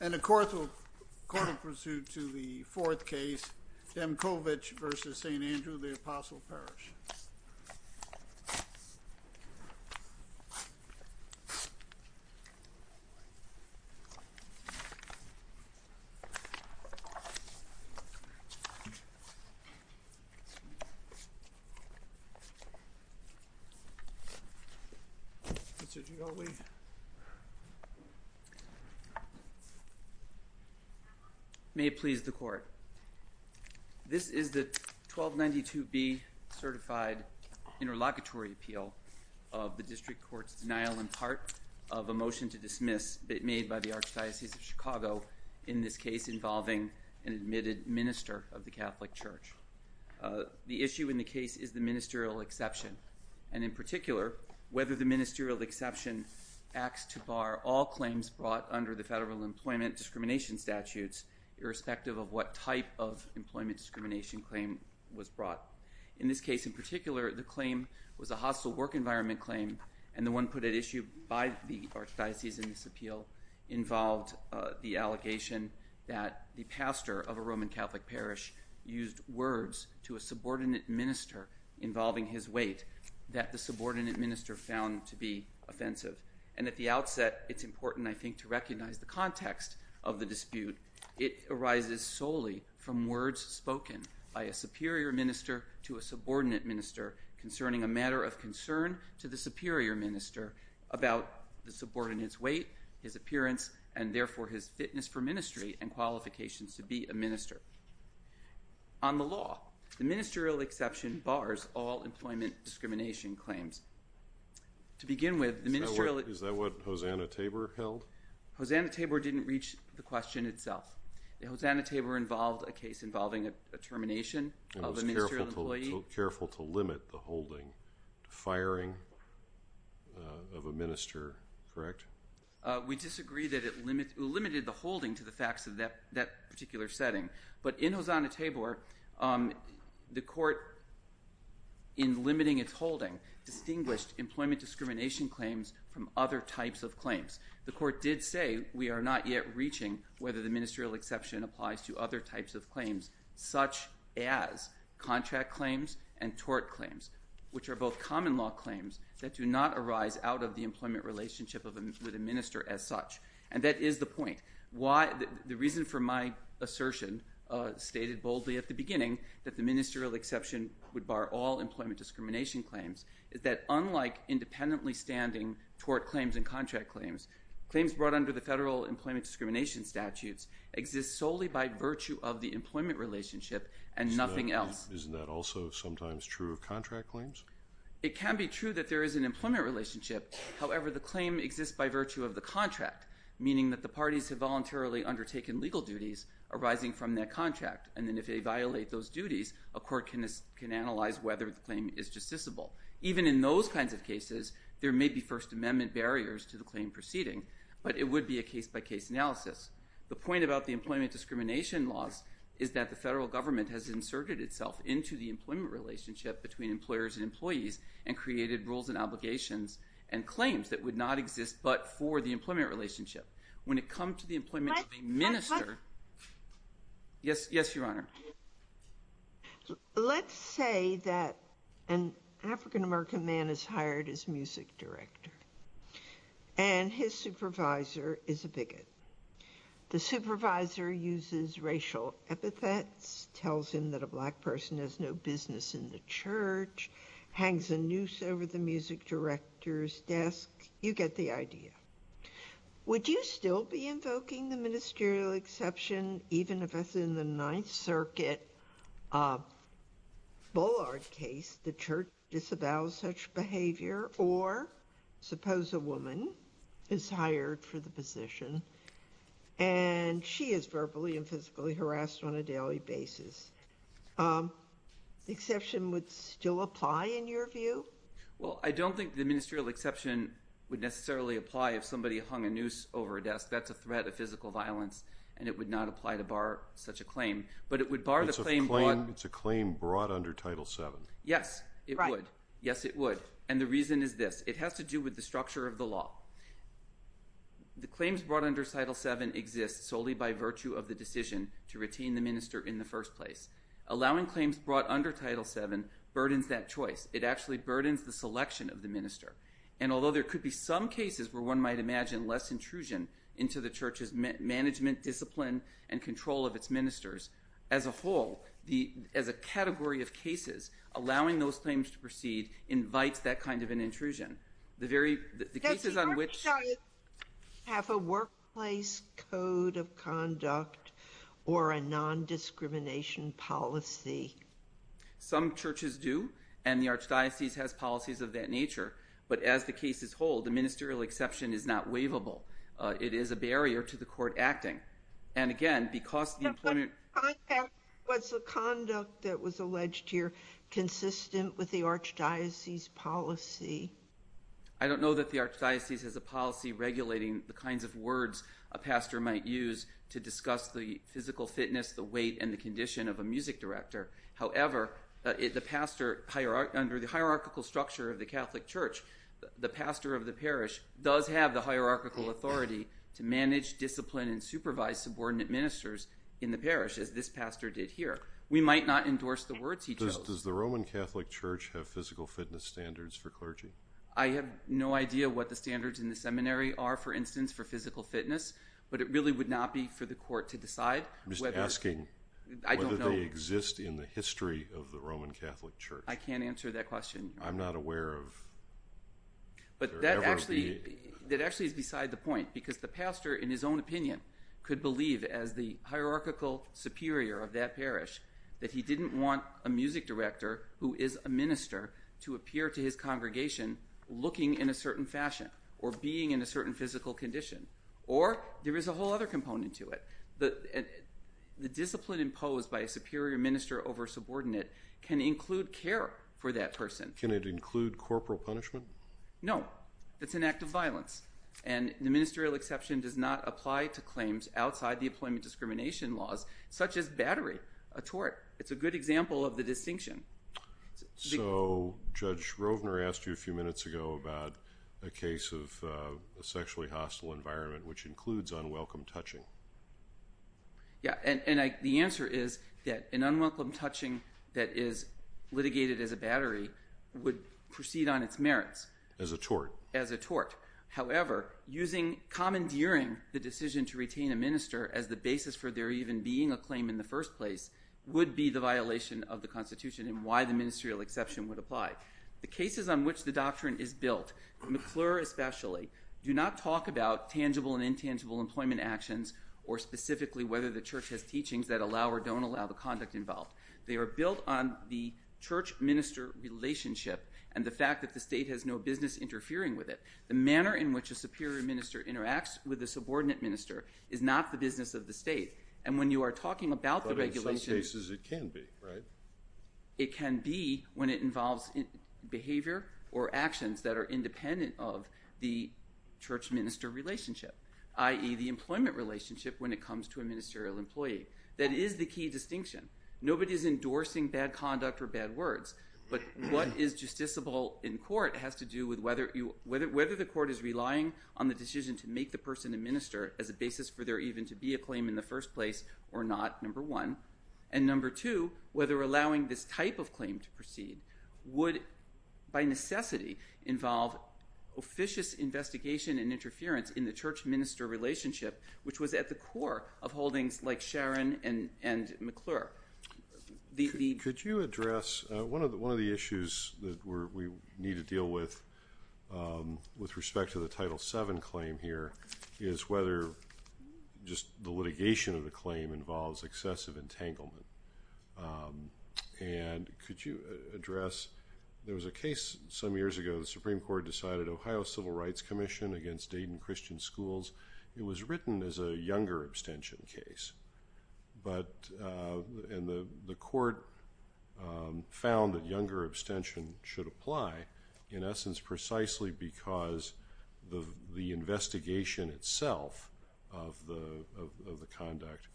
And a court of pursuit to the fourth case, Demkovich v. St. Andrew the Apostle Parish. May it please the court. This is the 1292B certified interlocutory appeal of the district court's denial in part of a motion to dismiss made by the Archdiocese of Chicago in this case involving an admitted minister of the Catholic Church. The issue in the case is the ministerial exception and in particular whether the ministerial exception acts to bar all claims brought under the federal employment discrimination statutes irrespective of what type of employment discrimination claim was brought. In this case in particular the claim was a hostile work environment claim and the one put at issue by the Archdiocese in this appeal involved the allegation that the pastor of a Roman Catholic parish used words to a subordinate minister involving his weight that the subordinate minister found to be offensive. And at the outset it's important I think to recognize the context of the dispute. It arises solely from words spoken by a superior minister to a subordinate minister concerning a matter of concern to the superior minister about the subordinate's weight, his appearance, and therefore his fitness for ministry and qualifications to be a minister. On the law, the ministerial exception bars all employment discrimination claims. To begin with, the ministerial... Is that what Hosanna Tabor held? Hosanna Tabor didn't reach the question itself. Hosanna Tabor involved a case involving a termination of a ministerial employee... And was careful to limit the holding, the firing of a minister, correct? We disagree that it limited the holding to the facts of that particular setting, but in Hosanna Tabor the court in limiting its holding distinguished employment discrimination claims from other types of claims. The court did say we are not yet reaching whether the ministerial exception applies to other types of claims such as contract claims and tort claims, which are both common law claims that do not arise out of the employment relationship with a minister as such. And that is the point. The reason for my assertion stated boldly at the beginning that the ministerial exception would bar all employment discrimination claims is that unlike independently standing tort claims and contract claims, claims brought under the federal employment discrimination statutes exist solely by virtue of the employment relationship and nothing else. Isn't that also sometimes true of contract claims? It can be true that there is an employment relationship. However, the claim exists by virtue of the contract, meaning that the parties have voluntarily undertaken legal duties arising from that contract. And then if they violate those duties, a court can analyze whether the claim is justiciable. Even in those kinds of cases, there may be First Amendment barriers to the claim proceeding, but it would be a case-by-case analysis. The point about the employment discrimination laws is that the federal government has inserted itself into the employment relationship between employers and employees and created rules and obligations and claims that would not exist but for the employment relationship. Let's say that an African-American man is hired as music director and his supervisor is a bigot. The supervisor uses racial epithets, tells him that a black person has no business in the church, hangs a noose over the music director's desk. You get the idea. Would you still be invoking the ministerial exception even if, as in the Ninth Circuit Bullard case, the church disavows such behavior? Or suppose a woman is hired for the position and she is verbally and physically harassed on a daily basis. The exception would still apply in your view? Well, I don't think the ministerial exception would necessarily apply if somebody hung a noose over a desk. That's a threat of physical violence, and it would not apply to bar such a claim. But it would bar the claim brought… It's a claim brought under Title VII. Yes, it would. Right. Yes, it would. And the reason is this. It has to do with the structure of the law. The claims brought under Title VII exist solely by virtue of the decision to retain the minister in the first place. Allowing claims brought under Title VII burdens that choice. It actually burdens the selection of the minister. And although there could be some cases where one might imagine less intrusion into the church's management, discipline, and control of its ministers, as a whole, as a category of cases, allowing those claims to proceed invites that kind of an intrusion. The cases on which… Does the Archdiocese have a workplace code of conduct or a nondiscrimination policy? Some churches do, and the Archdiocese has policies of that nature. But as the cases hold, the ministerial exception is not waivable. It is a barrier to the court acting. And again, because the employment… But what kind of conduct was the conduct that was alleged here consistent with the Archdiocese's policy? I don't know that the Archdiocese has a policy regulating the kinds of words a pastor might use to discuss the physical fitness, the weight, and the condition of a music director. However, under the hierarchical structure of the Catholic Church, the pastor of the parish does have the hierarchical authority to manage, discipline, and supervise subordinate ministers in the parish, as this pastor did here. We might not endorse the words he chose. Does the Roman Catholic Church have physical fitness standards for clergy? I have no idea what the standards in the seminary are, for instance, for physical fitness, but it really would not be for the court to decide whether… I'm just asking whether they exist in the history of the Roman Catholic Church. I can't answer that question. I'm not aware of… But that actually is beside the point, because the pastor, in his own opinion, could believe as the hierarchical superior of that parish that he didn't want a music director, who is a minister, to appear to his congregation looking in a certain fashion or being in a certain physical condition. Or there is a whole other component to it. The discipline imposed by a superior minister over a subordinate can include care for that person. Can it include corporal punishment? No. It's an act of violence, and the ministerial exception does not apply to claims outside the employment discrimination laws, such as battery, a tort. It's a good example of the distinction. So Judge Rovner asked you a few minutes ago about a case of a sexually hostile environment, which includes unwelcome touching. Yeah, and the answer is that an unwelcome touching that is litigated as a battery would proceed on its merits. As a tort. As a tort. However, commandeering the decision to retain a minister as the basis for there even being a claim in the first place would be the violation of the Constitution and why the ministerial exception would apply. The cases on which the doctrine is built, McClure especially, do not talk about tangible and intangible employment actions or specifically whether the church has teachings that allow or don't allow the conduct involved. They are built on the church-minister relationship and the fact that the state has no business interfering with it. The manner in which a superior minister interacts with a subordinate minister is not the business of the state. And when you are talking about the regulations. But in some cases it can be, right? It can be when it involves behavior or actions that are independent of the church-minister relationship, i.e., the employment relationship when it comes to a ministerial employee. That is the key distinction. Nobody is endorsing bad conduct or bad words. But what is justiciable in court has to do with whether the court is relying on the decision to make the person a minister as a basis for there even to be a claim in the first place or not, number one. And number two, whether allowing this type of claim to proceed would, by necessity, involve officious investigation and interference in the church-minister relationship, which was at the core of holdings like Sharon and McClure. Could you address – one of the issues that we need to deal with with respect to the Title VII claim here is whether just the litigation of the claim involves excessive entanglement. And could you address – there was a case some years ago, the Supreme Court decided, Ohio Civil Rights Commission against Dayton Christian Schools. It was written as a younger abstention case, and the court found that younger abstention should apply in essence precisely because the investigation itself of the conduct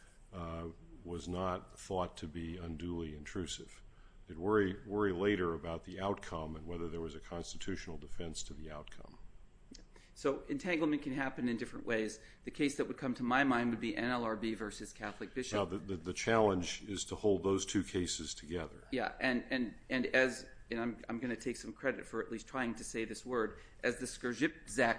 was not thought to be unduly intrusive. They'd worry later about the outcome and whether there was a constitutional defense to the outcome. So entanglement can happen in different ways. The case that would come to my mind would be NLRB versus Catholic Bishop. Now, the challenge is to hold those two cases together. Yeah, and as – and I'm going to take some credit for at least trying to say this word – as the Skrzipczak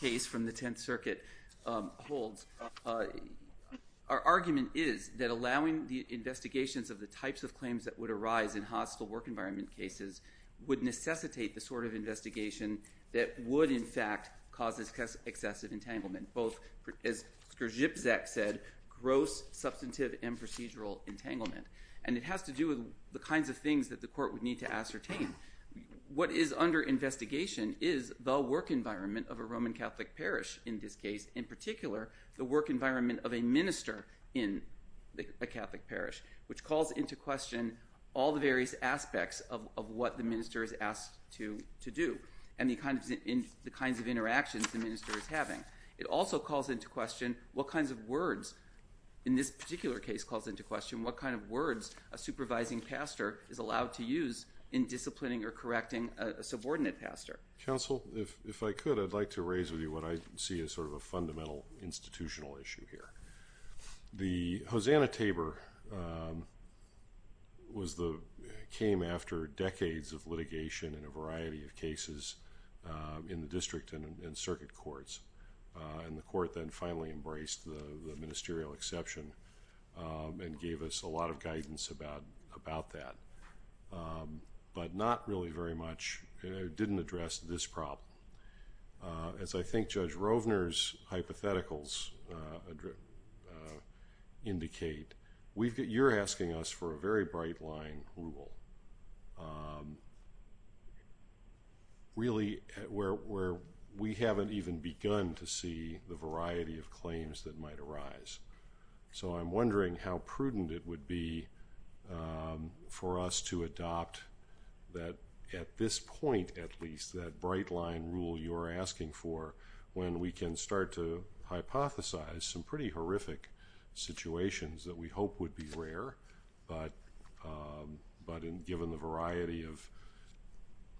case from the Tenth Circuit holds, our argument is that allowing the investigations of the types of claims that would arise in hostile work environment cases would necessitate the sort of investigation that would in fact cause excessive entanglement, both, as Skrzipczak said, gross, substantive, and procedural entanglement. And it has to do with the kinds of things that the court would need to ascertain. What is under investigation is the work environment of a Roman Catholic parish in this case, in particular the work environment of a minister in a Catholic parish, which calls into question all the various aspects of what the minister is asked to do and the kinds of interactions the minister is having. It also calls into question what kinds of words – in this particular case calls into question what kind of words a supervising pastor is allowed to use in disciplining or correcting a subordinate pastor. Counsel, if I could, I'd like to raise with you what I see as sort of a fundamental institutional issue here. The Hosanna-Tabor came after decades of litigation in a variety of cases in the district and circuit courts. And the court then finally embraced the ministerial exception and gave us a lot of guidance about that. But not really very much – it didn't address this problem. As I think Judge Rovner's hypotheticals indicate, you're asking us for a very bright-line rule, really where we haven't even begun to see the variety of claims that might arise. So I'm wondering how prudent it would be for us to adopt that – at this point, at least – that bright-line rule you're asking for when we can start to hypothesize some pretty horrific situations that we hope would be rare, but given the variety of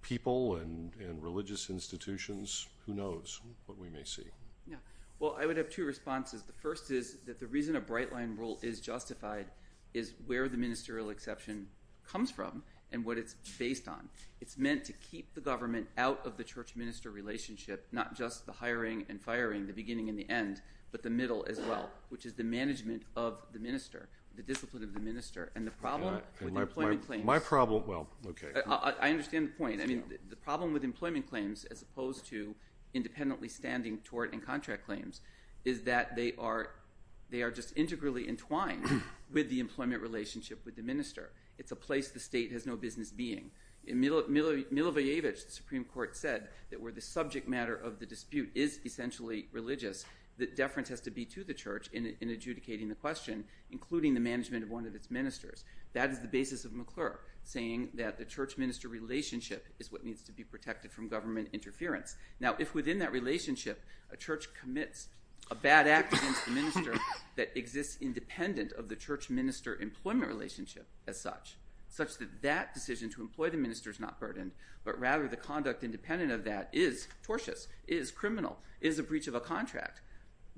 people and religious institutions, who knows what we may see. Well, I would have two responses. The first is that the reason a bright-line rule is justified is where the ministerial exception comes from and what it's based on. It's meant to keep the government out of the church-minister relationship, not just the hiring and firing, the beginning and the end, but the middle as well, which is the management of the minister, the discipline of the minister, and the problem with employment claims. My problem – well, okay. I understand the point. I mean, the problem with employment claims, as opposed to independently standing tort and contract claims, is that they are just integrally entwined with the employment relationship with the minister. It's a place the state has no business being. In Milošević, the Supreme Court said that where the subject matter of the dispute is essentially religious, the deference has to be to the church in adjudicating the question, including the management of one of its ministers. That is the basis of McClure, saying that the church-minister relationship is what needs to be protected from government interference. Now, if within that relationship a church commits a bad act against the minister that exists independent of the church-minister employment relationship as such, such that that decision to employ the minister is not burdened, but rather the conduct independent of that is tortious, is criminal, is a breach of a contract,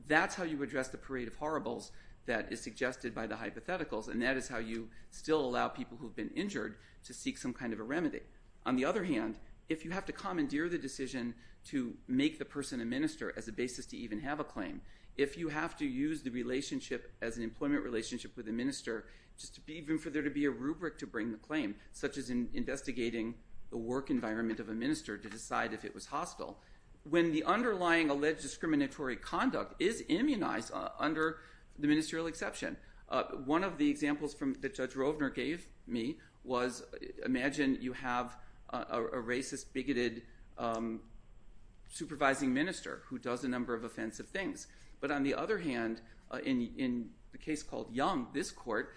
that's how you address the parade of horribles that is suggested by the hypotheticals, and that is how you still allow people who have been injured to seek some kind of a remedy. On the other hand, if you have to commandeer the decision to make the person a minister as a basis to even have a claim, if you have to use the relationship as an employment relationship with a minister just even for there to be a rubric to bring the claim, such as in investigating the work environment of a minister to decide if it was hostile, when the underlying alleged discriminatory conduct is immunized under the ministerial exception, one of the examples that Judge Rovner gave me was, imagine you have a racist, bigoted, supervising minister who does a number of offensive things, but on the other hand, in the case called Young, this court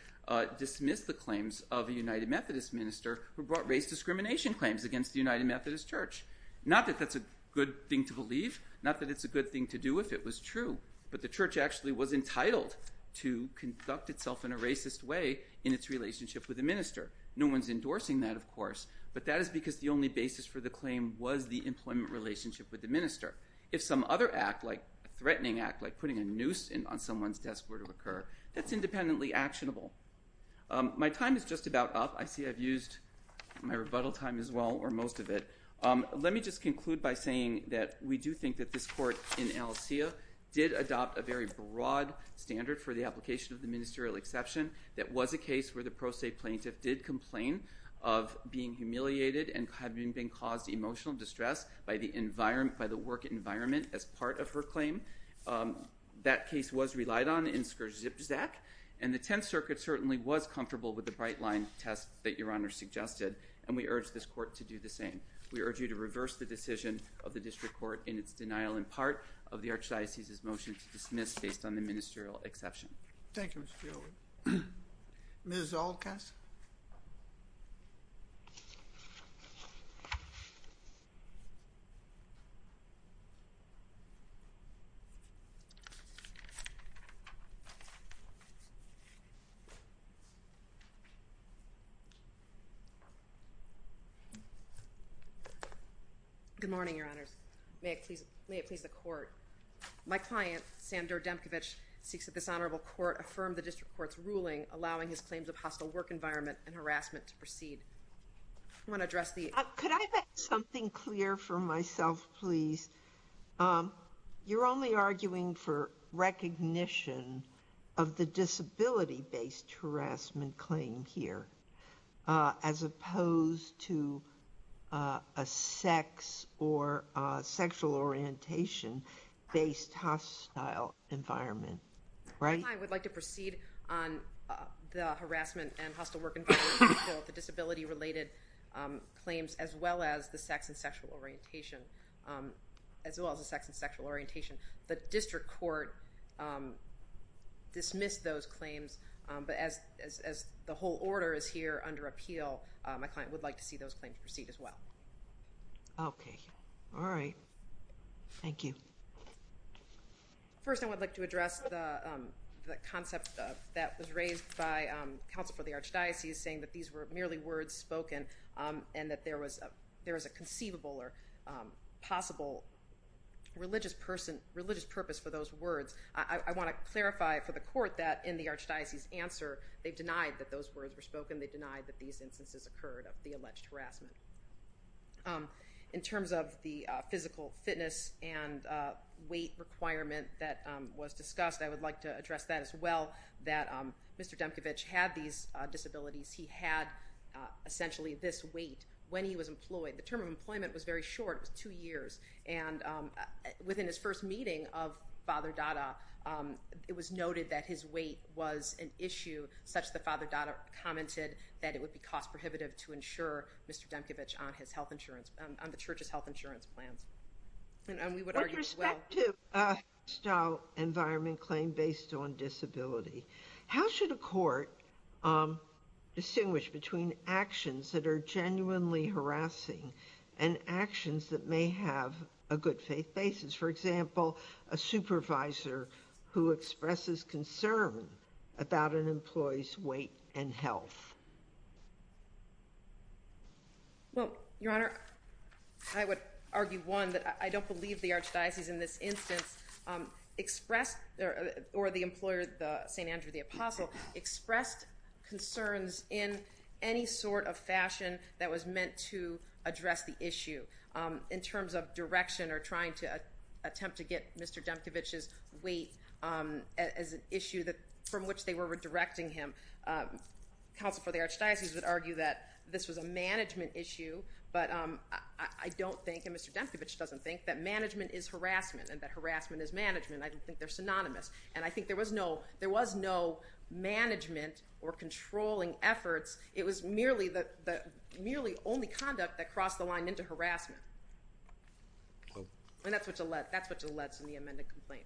dismissed the claims of a United Methodist minister who brought race discrimination claims against the United Methodist Church. Not that that's a good thing to believe, not that it's a good thing to do if it was true, but the church actually was entitled to conduct itself in a racist way in its relationship with the minister. No one's endorsing that, of course, but that is because the only basis for the claim was the employment relationship with the minister. If some other act, like a threatening act, like putting a noose on someone's desk were to occur, that's independently actionable. My time is just about up. I see I've used my rebuttal time as well, or most of it. Let me just conclude by saying that we do think that this court in Alisea did adopt a very broad standard for the application of the ministerial exception. That was a case where the pro se plaintiff did complain of being humiliated and having been caused emotional distress by the work environment as part of her claim. That case was relied on in Skrzipczak, and the Tenth Circuit certainly was comfortable with the bright-line test that Your Honor suggested, and we urge this court to do the same. We urge you to reverse the decision of the district court in its denial in part of the Archdiocese's motion to dismiss based on the ministerial exception. Thank you, Mr. Gilbert. Ms. Zolkowski. Good morning, Your Honors. May it please the court. My client, Sandor Demkiewicz, seeks that this honorable court affirm the district court's ruling, allowing his claims of hostile work environment and harassment to proceed. I want to address the— Could I make something clear for myself, please? You're only arguing for recognition of the disability-based harassment claim here, as opposed to a sex or sexual orientation-based hostile environment, right? My client would like to proceed on the harassment and hostile work environment, the disability-related claims, as well as the sex and sexual orientation. The district court dismissed those claims, but as the whole order is here under appeal, my client would like to see those claims proceed as well. Okay. All right. Thank you. First, I would like to address the concept that was raised by counsel for the Archdiocese, saying that these were merely words spoken and that there was a conceivable or possible religious purpose for those words. I want to clarify for the court that in the Archdiocese's answer, they've denied that those words were spoken. They've denied that these instances occurred of the alleged harassment. In terms of the physical fitness and weight requirement that was discussed, I would like to address that as well, that Mr. Demkevich had these disabilities. He had essentially this weight when he was employed. The term of employment was very short. It was two years. And within his first meeting of Father Dada, it was noted that his weight was an issue, such that Father Dada commented that it would be cost prohibitive to insure Mr. Demkevich on the church's health insurance plans. With respect to a hostile environment claim based on disability, how should a court distinguish between actions that are genuinely harassing and actions that may have a good faith basis? For example, a supervisor who expresses concern about an employee's weight and health. Well, Your Honor, I would argue, one, that I don't believe the Archdiocese in this instance expressed or the employer, St. Andrew the Apostle, expressed concerns in any sort of fashion that was meant to address the issue. In terms of direction or trying to attempt to get Mr. Demkevich's weight as an issue from which they were redirecting him, counsel for the Archdiocese would argue that this was a management issue. But I don't think, and Mr. Demkevich doesn't think, that management is harassment and that harassment is management. I don't think they're synonymous. And I think there was no management or controlling efforts. It was merely only conduct that crossed the line into harassment. And that's what's alleged in the amended complaint.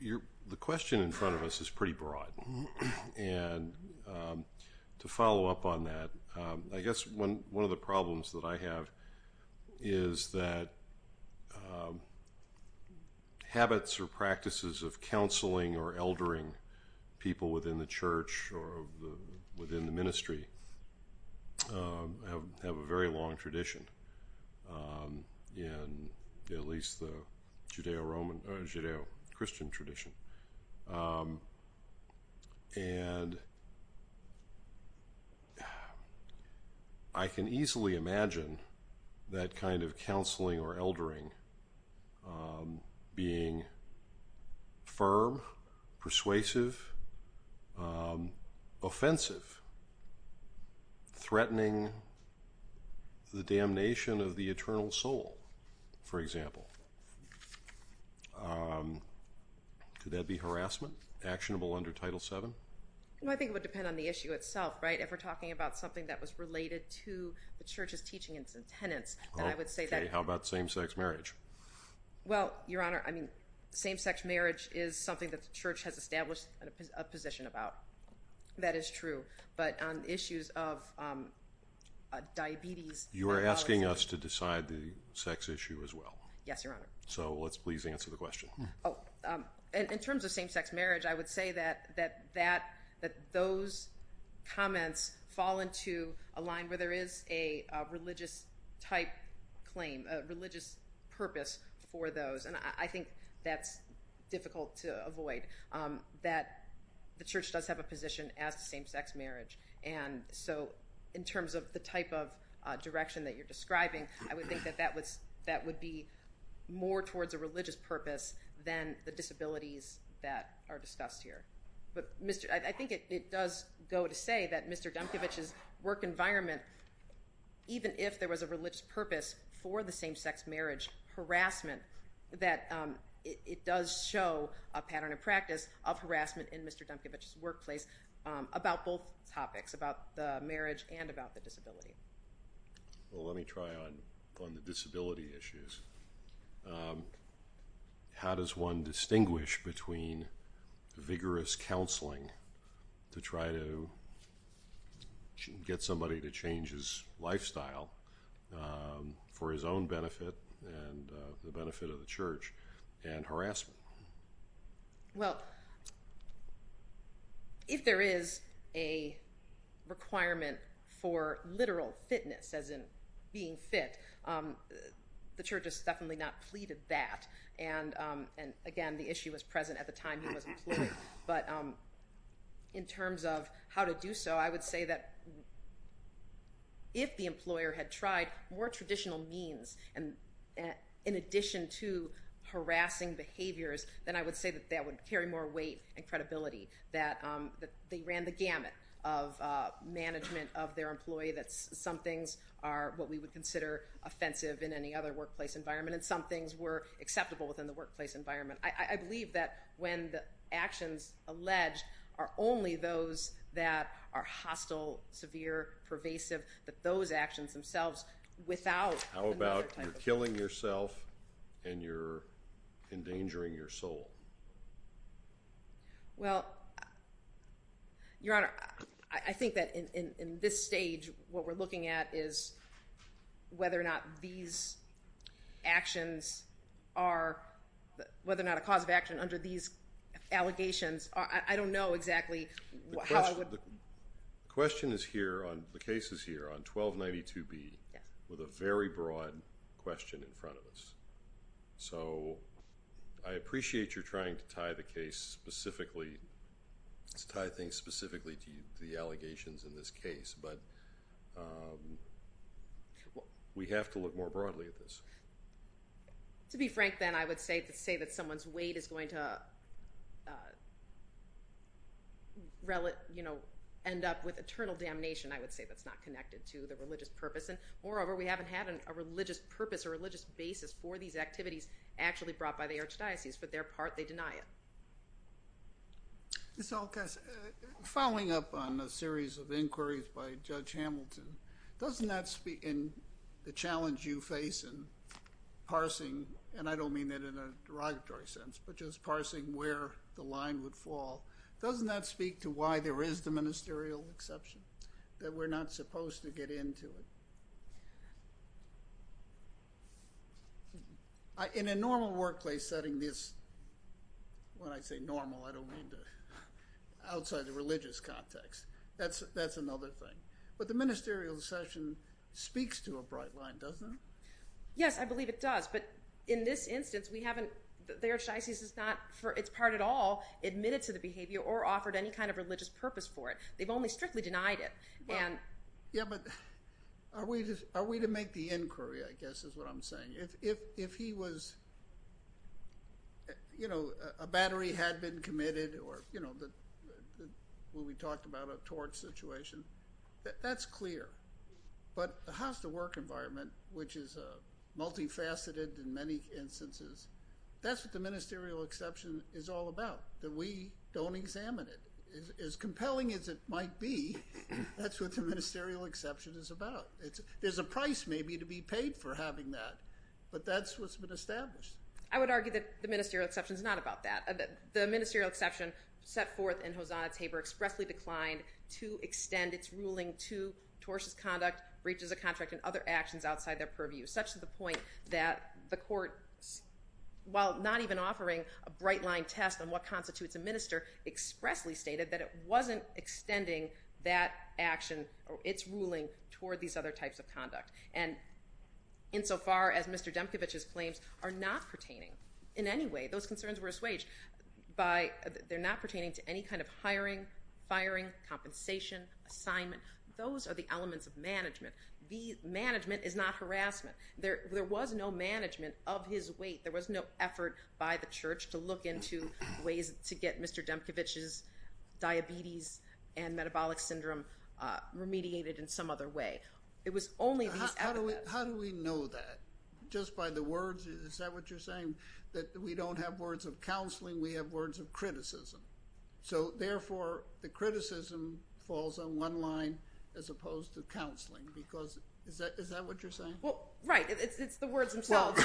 The question in front of us is pretty broad. And to follow up on that, I guess one of the problems that I have is that habits or practices of counseling or eldering people within the church or within the ministry have a very long tradition, at least the Judeo-Christian tradition. And I can easily imagine that kind of counseling or eldering being firm, persuasive, offensive, threatening the damnation of the eternal soul, for example. Could that be harassment, actionable under Title VII? Well, I think it would depend on the issue itself, right? If we're talking about something that was related to the church's teaching and its attendance, then I would say that... Okay, how about same-sex marriage? Well, Your Honor, I mean, same-sex marriage is something that the church has established a position about. That is true. But on issues of diabetes... You are asking us to decide the sex issue as well. Yes, Your Honor. So let's please answer the question. In terms of same-sex marriage, I would say that those comments fall into a line where there is a religious-type claim, a religious purpose for those. And I think that's difficult to avoid, that the church does have a position as to same-sex marriage. And so in terms of the type of direction that you're describing, I would think that that would be more towards a religious purpose than the disabilities that are discussed here. But I think it does go to say that Mr. Demkevich's work environment, even if there was a religious purpose for the same-sex marriage harassment, that it does show a pattern of practice of harassment in Mr. Demkevich's workplace about both topics, about the marriage and about the disability. Well, let me try on the disability issues. How does one distinguish between vigorous counseling to try to get somebody to change his lifestyle for his own benefit and the benefit of the church, and harassment? Well, if there is a requirement for literal fitness, as in being fit, the church has definitely not pleaded that. And, again, the issue was present at the time he was employed. But in terms of how to do so, I would say that if the employer had tried more traditional means, in addition to harassing behaviors, then I would say that that would carry more weight and credibility, that they ran the gamut of management of their employee, that some things are what we would consider offensive in any other workplace environment and some things were acceptable within the workplace environment. I believe that when the actions alleged are only those that are hostile, severe, pervasive, that those actions themselves, without another type of... How about you're killing yourself and you're endangering your soul? Well, Your Honor, I think that in this stage, what we're looking at is whether or not these actions are, whether or not a cause of action under these allegations, I don't know exactly how I would... The question is here on, the case is here on 1292B with a very broad question in front of us. So I appreciate you're trying to tie the case specifically, tie things specifically to the allegations in this case, but we have to look more broadly at this. To be frank then, I would say that someone's weight is going to end up with eternal damnation, I would say that's not connected to the religious purpose. And moreover, we haven't had a religious purpose, a religious basis for these activities actually brought by the archdiocese. For their part, they deny it. Ms. Olkos, following up on a series of inquiries by Judge Hamilton, doesn't that speak in the challenge you face in parsing, and I don't mean that in a derogatory sense, but just parsing where the line would fall, doesn't that speak to why there is the ministerial exception, that we're not supposed to get into it? In a normal workplace setting, this, when I say normal, I don't mean outside the religious context, that's another thing. But the ministerial exception speaks to a bright line, doesn't it? Yes, I believe it does. But in this instance, we haven't, the archdiocese has not, for its part at all, admitted to the behavior or offered any kind of religious purpose for it. They've only strictly denied it. Yeah, but are we to make the inquiry, I guess is what I'm saying. If he was, you know, a battery had been committed or, you know, when we talked about a torch situation, that's clear. But the house-to-work environment, which is multifaceted in many instances, that's what the ministerial exception is all about, that we don't examine it. As compelling as it might be, that's what the ministerial exception is about. There's a price maybe to be paid for having that, but that's what's been established. I would argue that the ministerial exception is not about that. The ministerial exception set forth in Hosanna Tabor expressly declined to extend its ruling to tortious conduct, breaches of contract, and other actions outside their purview, such to the point that the court, while not even offering a bright-line test on what constitutes a minister, expressly stated that it wasn't extending that action or its ruling toward these other types of conduct. And insofar as Mr. Demkevich's claims are not pertaining in any way, those concerns were assuaged by they're not pertaining to any kind of hiring, firing, compensation, assignment. Those are the elements of management. Management is not harassment. There was no management of his weight. There was no effort by the church to look into ways to get Mr. Demkevich's diabetes and metabolic syndrome remediated in some other way. It was only these efforts. How do we know that? Just by the words? Is that what you're saying, that we don't have words of counseling? We have words of criticism? So, therefore, the criticism falls on one line as opposed to counseling? Is that what you're saying? Right. It's the words themselves.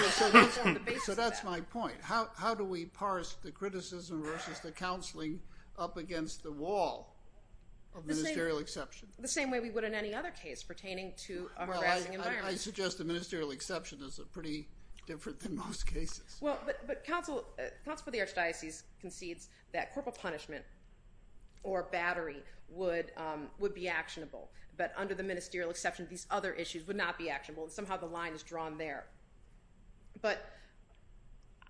So that's my point. How do we parse the criticism versus the counseling up against the wall of ministerial exception? The same way we would in any other case pertaining to a harassing environment. Well, I suggest the ministerial exception is pretty different than most cases. Well, but counsel for the archdiocese concedes that corporal punishment or battery would be actionable. But under the ministerial exception, these other issues would not be actionable. Somehow the line is drawn there. But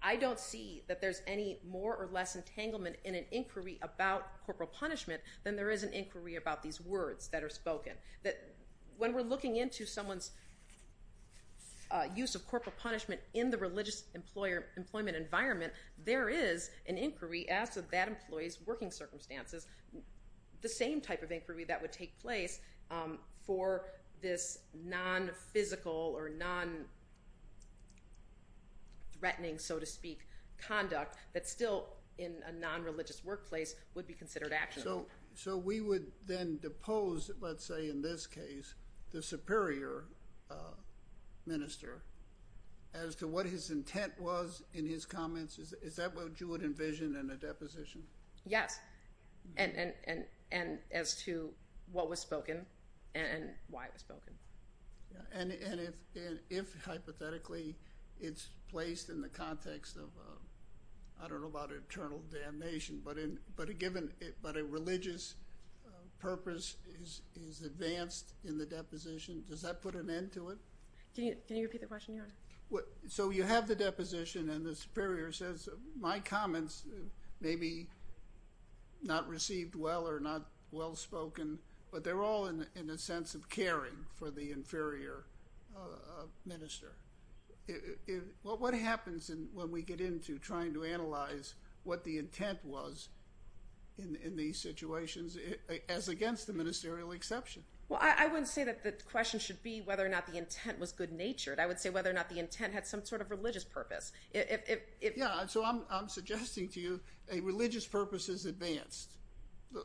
I don't see that there's any more or less entanglement in an inquiry about corporal punishment than there is an inquiry about these words that are spoken. When we're looking into someone's use of corporal punishment in the religious employment environment, there is an inquiry as to that employee's working circumstances, the same type of inquiry that would take place for this non-physical or non-threatening, so to speak, conduct that still in a non-religious workplace would be considered actionable. So we would then depose, let's say in this case, the superior minister as to what his intent was in his comments? Is that what you would envision in a deposition? Yes, and as to what was spoken and why it was spoken. And if hypothetically it's placed in the context of, I don't know about eternal damnation, but a religious purpose is advanced in the deposition, does that put an end to it? So you have the deposition and the superior says, my comments may be not received well or not well-spoken, but they're all in a sense of caring for the inferior minister. What happens when we get into trying to analyze what the intent was in these situations as against the ministerial exception? Well, I wouldn't say that the question should be whether or not the intent was good-natured. I would say whether or not the intent had some sort of religious purpose. Yeah, so I'm suggesting to you a religious purpose is advanced.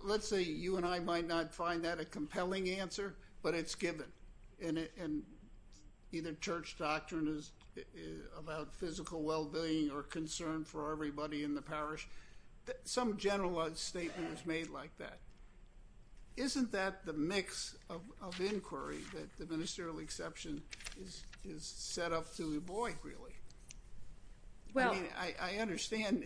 Let's say you and I might not find that a compelling answer, but it's given, and either church doctrine is about physical well-being or concern for everybody in the parish. Some general statement is made like that. Isn't that the mix of inquiry that the ministerial exception is set up to avoid, really? I mean, I understand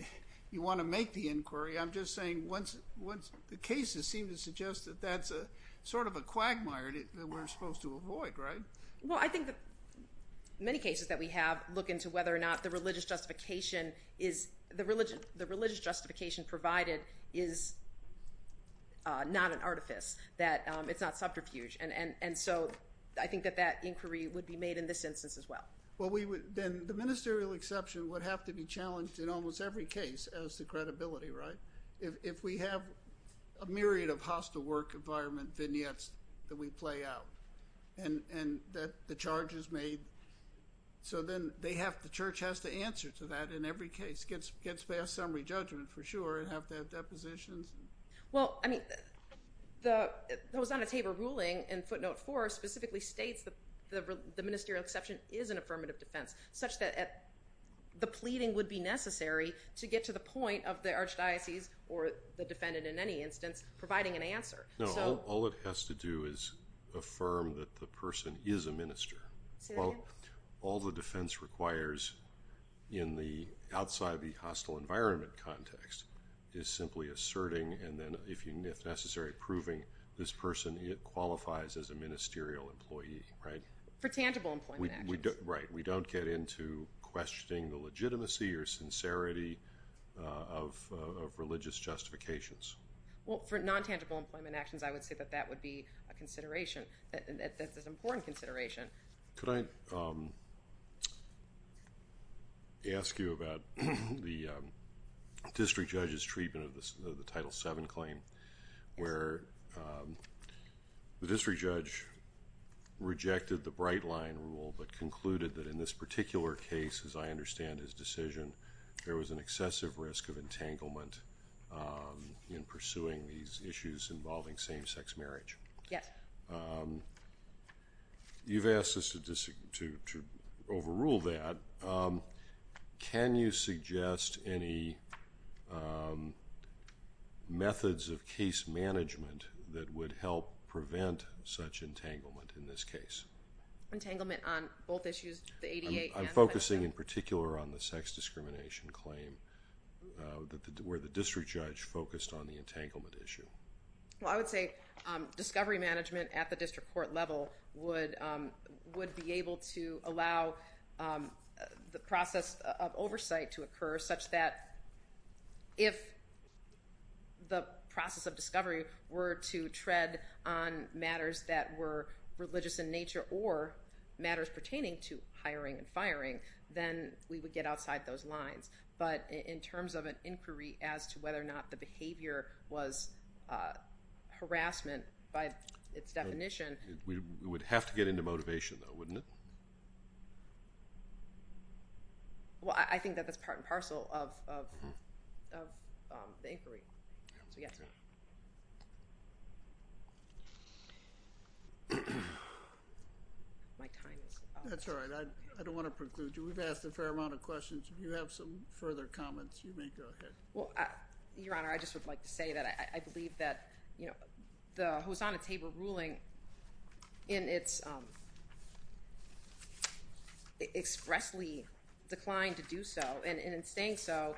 you want to make the inquiry. I'm just saying the cases seem to suggest that that's sort of a quagmire that we're supposed to avoid, right? Well, I think that many cases that we have look into whether or not the religious justification provided is not an artifice, that it's not subterfuge. And so I think that that inquiry would be made in this instance as well. Well, then the ministerial exception would have to be challenged in almost every case as to credibility, right? If we have a myriad of hostile work environment vignettes that we play out and that the charge is made, so then the church has to answer to that in every case, gets past summary judgment for sure, and have to have depositions. Well, I mean, the Lausanne-Tabor ruling in footnote 4 specifically states that the ministerial exception is an affirmative defense, such that the pleading would be necessary to get to the point of the archdiocese or the defendant in any instance providing an answer. No, all it has to do is affirm that the person is a minister. Say that again? All the defense requires outside the hostile environment context is simply asserting and then, if necessary, proving this person qualifies as a ministerial employee, right? For tangible employment actions. Right. We don't get into questioning the legitimacy or sincerity of religious justifications. Well, for non-tangible employment actions, I would say that that would be a consideration, an important consideration. Could I ask you about the district judge's treatment of the Title VII claim where the district judge rejected the Bright Line rule but concluded that in this particular case, as I understand his decision, there was an excessive risk of entanglement in pursuing these issues involving same-sex marriage? Yes. You've asked us to overrule that. Can you suggest any methods of case management that would help prevent such entanglement in this case? Entanglement on both issues, the ADA and the Title VII? I'm focusing in particular on the sex discrimination claim where the district judge focused on the entanglement issue. Well, I would say discovery management at the district court level would be able to allow the process of oversight to occur such that if the process of discovery were to tread on matters that were religious in nature or matters pertaining to hiring and firing, then we would get outside those lines. But in terms of an inquiry as to whether or not the behavior was harassment by its definition— It would have to get into motivation, though, wouldn't it? Well, I think that that's part and parcel of the inquiry. So, yes. My time is up. That's all right. I don't want to preclude you. We've asked a fair amount of questions. If you have some further comments, you may go ahead. Well, Your Honor, I just would like to say that I believe that the Hosanna-Tabor ruling in its expressly declined to do so, and in saying so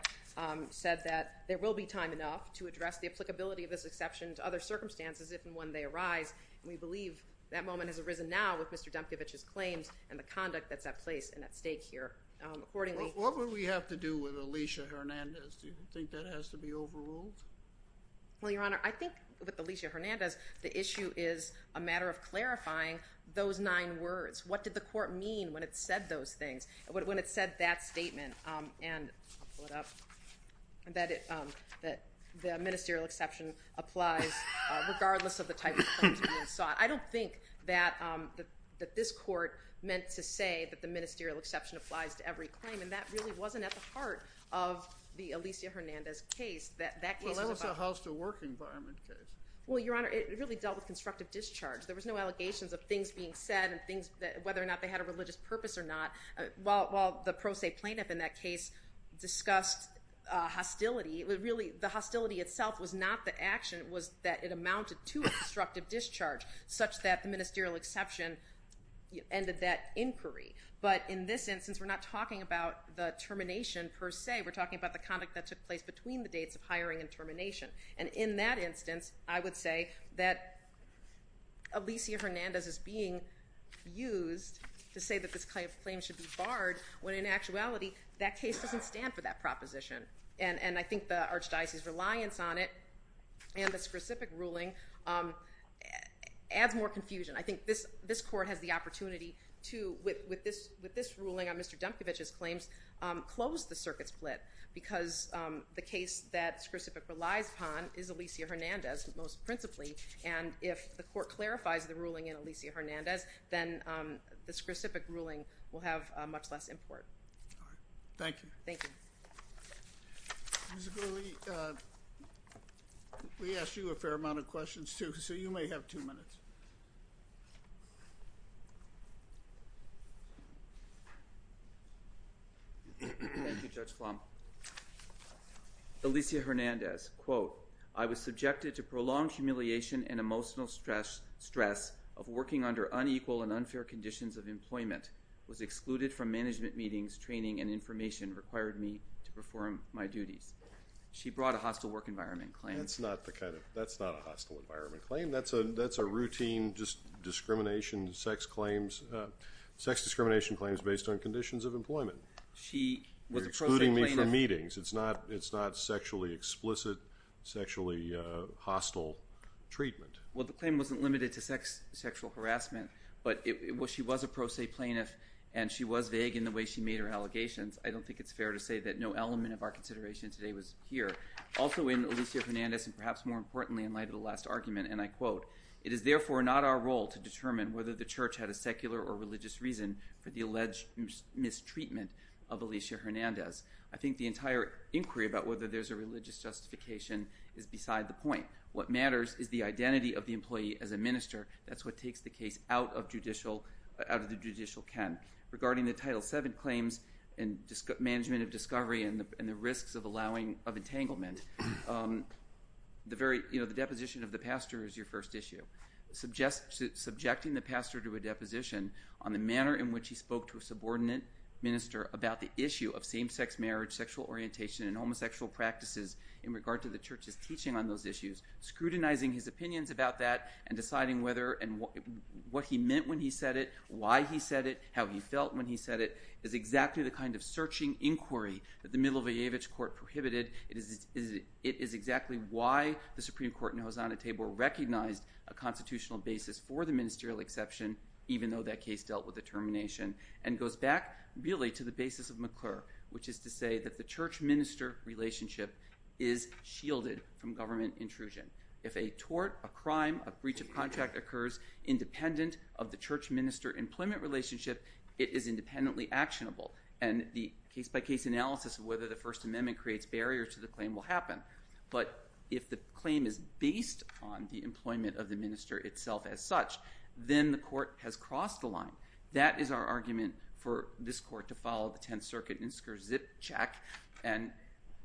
said that there will be time enough to address the applicability of this exception to other circumstances if and when they arise. And we believe that moment has arisen now with Mr. Demkevich's claims and the conduct that's at place and at stake here. Accordingly— What would we have to do with Alicia Hernandez? Do you think that has to be overruled? Well, Your Honor, I think with Alicia Hernandez, the issue is a matter of clarifying those nine words. What did the court mean when it said those things, when it said that statement? I'll pull it up. That the ministerial exception applies regardless of the type of claims being sought. I don't think that this court meant to say that the ministerial exception applies to every claim, and that really wasn't at the heart of the Alicia Hernandez case. That case was about— Well, that was a house-to-work environment case. Well, Your Honor, it really dealt with constructive discharge. There was no allegations of things being said and whether or not they had a religious purpose or not. While the pro se plaintiff in that case discussed hostility, really the hostility itself was not the action. It was that it amounted to constructive discharge, such that the ministerial exception ended that inquiry. But in this instance, we're not talking about the termination per se. We're talking about the conduct that took place between the dates of hiring and termination. And in that instance, I would say that Alicia Hernandez is being used to say that this kind of claim should be barred, when in actuality, that case doesn't stand for that proposition. And I think the Archdiocese's reliance on it and the Skrcipic ruling adds more confusion. I think this court has the opportunity to, with this ruling on Mr. Demkevich's claims, close the circuit split because the case that Skrcipic relies upon is Alicia Hernandez most principally. And if the court clarifies the ruling in Alicia Hernandez, then the Skrcipic ruling will have much less import. All right. Thank you. Thank you. Mr. Gurley, we asked you a fair amount of questions too, so you may have two minutes. Thank you, Judge Flom. Alicia Hernandez, quote, I was subjected to prolonged humiliation and emotional stress of working under unequal and unfair conditions of employment, was excluded from management meetings, training, and information required me to perform my duties. She brought a hostile work environment claim. That's not a hostile environment claim. That's a routine discrimination, sex discrimination claims based on conditions of employment. She was a pro se plaintiff. You're excluding me from meetings. It's not sexually explicit, sexually hostile treatment. Well, the claim wasn't limited to sexual harassment, but she was a pro se plaintiff, and she was vague in the way she made her allegations. I don't think it's fair to say that no element of our consideration today was here. Also in Alicia Hernandez, and perhaps more importantly in light of the last argument, and I quote, it is therefore not our role to determine whether the church had a secular or religious reason for the alleged mistreatment of Alicia Hernandez. I think the entire inquiry about whether there's a religious justification is beside the point. What matters is the identity of the employee as a minister. That's what takes the case out of the judicial can. Regarding the Title VII claims and management of discovery and the risks of entanglement, the deposition of the pastor is your first issue. Subjecting the pastor to a deposition on the manner in which he spoke to a subordinate minister about the issue of same-sex marriage, sexual orientation, and homosexual practices in regard to the church's teaching on those issues, scrutinizing his opinions about that, and deciding whether and what he meant when he said it, why he said it, how he felt when he said it, is exactly the kind of searching inquiry that the Milošević court prohibited. It is exactly why the Supreme Court in Hosanna Table recognized a constitutional basis for the ministerial exception, even though that case dealt with the termination, and goes back, really, to the basis of McClure, which is to say that the church-minister relationship is shielded from government intrusion. If a tort, a crime, a breach of contract occurs independent of the church-minister employment relationship, it is independently actionable. And the case-by-case analysis of whether the First Amendment creates barriers to the claim will happen. But if the claim is based on the employment of the minister itself as such, then the court has crossed the line. That is our argument for this court to follow the Tenth Circuit INSCR zip check, and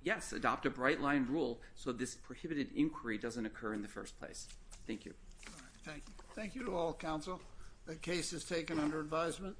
yes, adopt a bright-line rule so this prohibited inquiry doesn't occur in the first place. Thank you. Thank you. Thank you to all, counsel. The case is taken under advisement.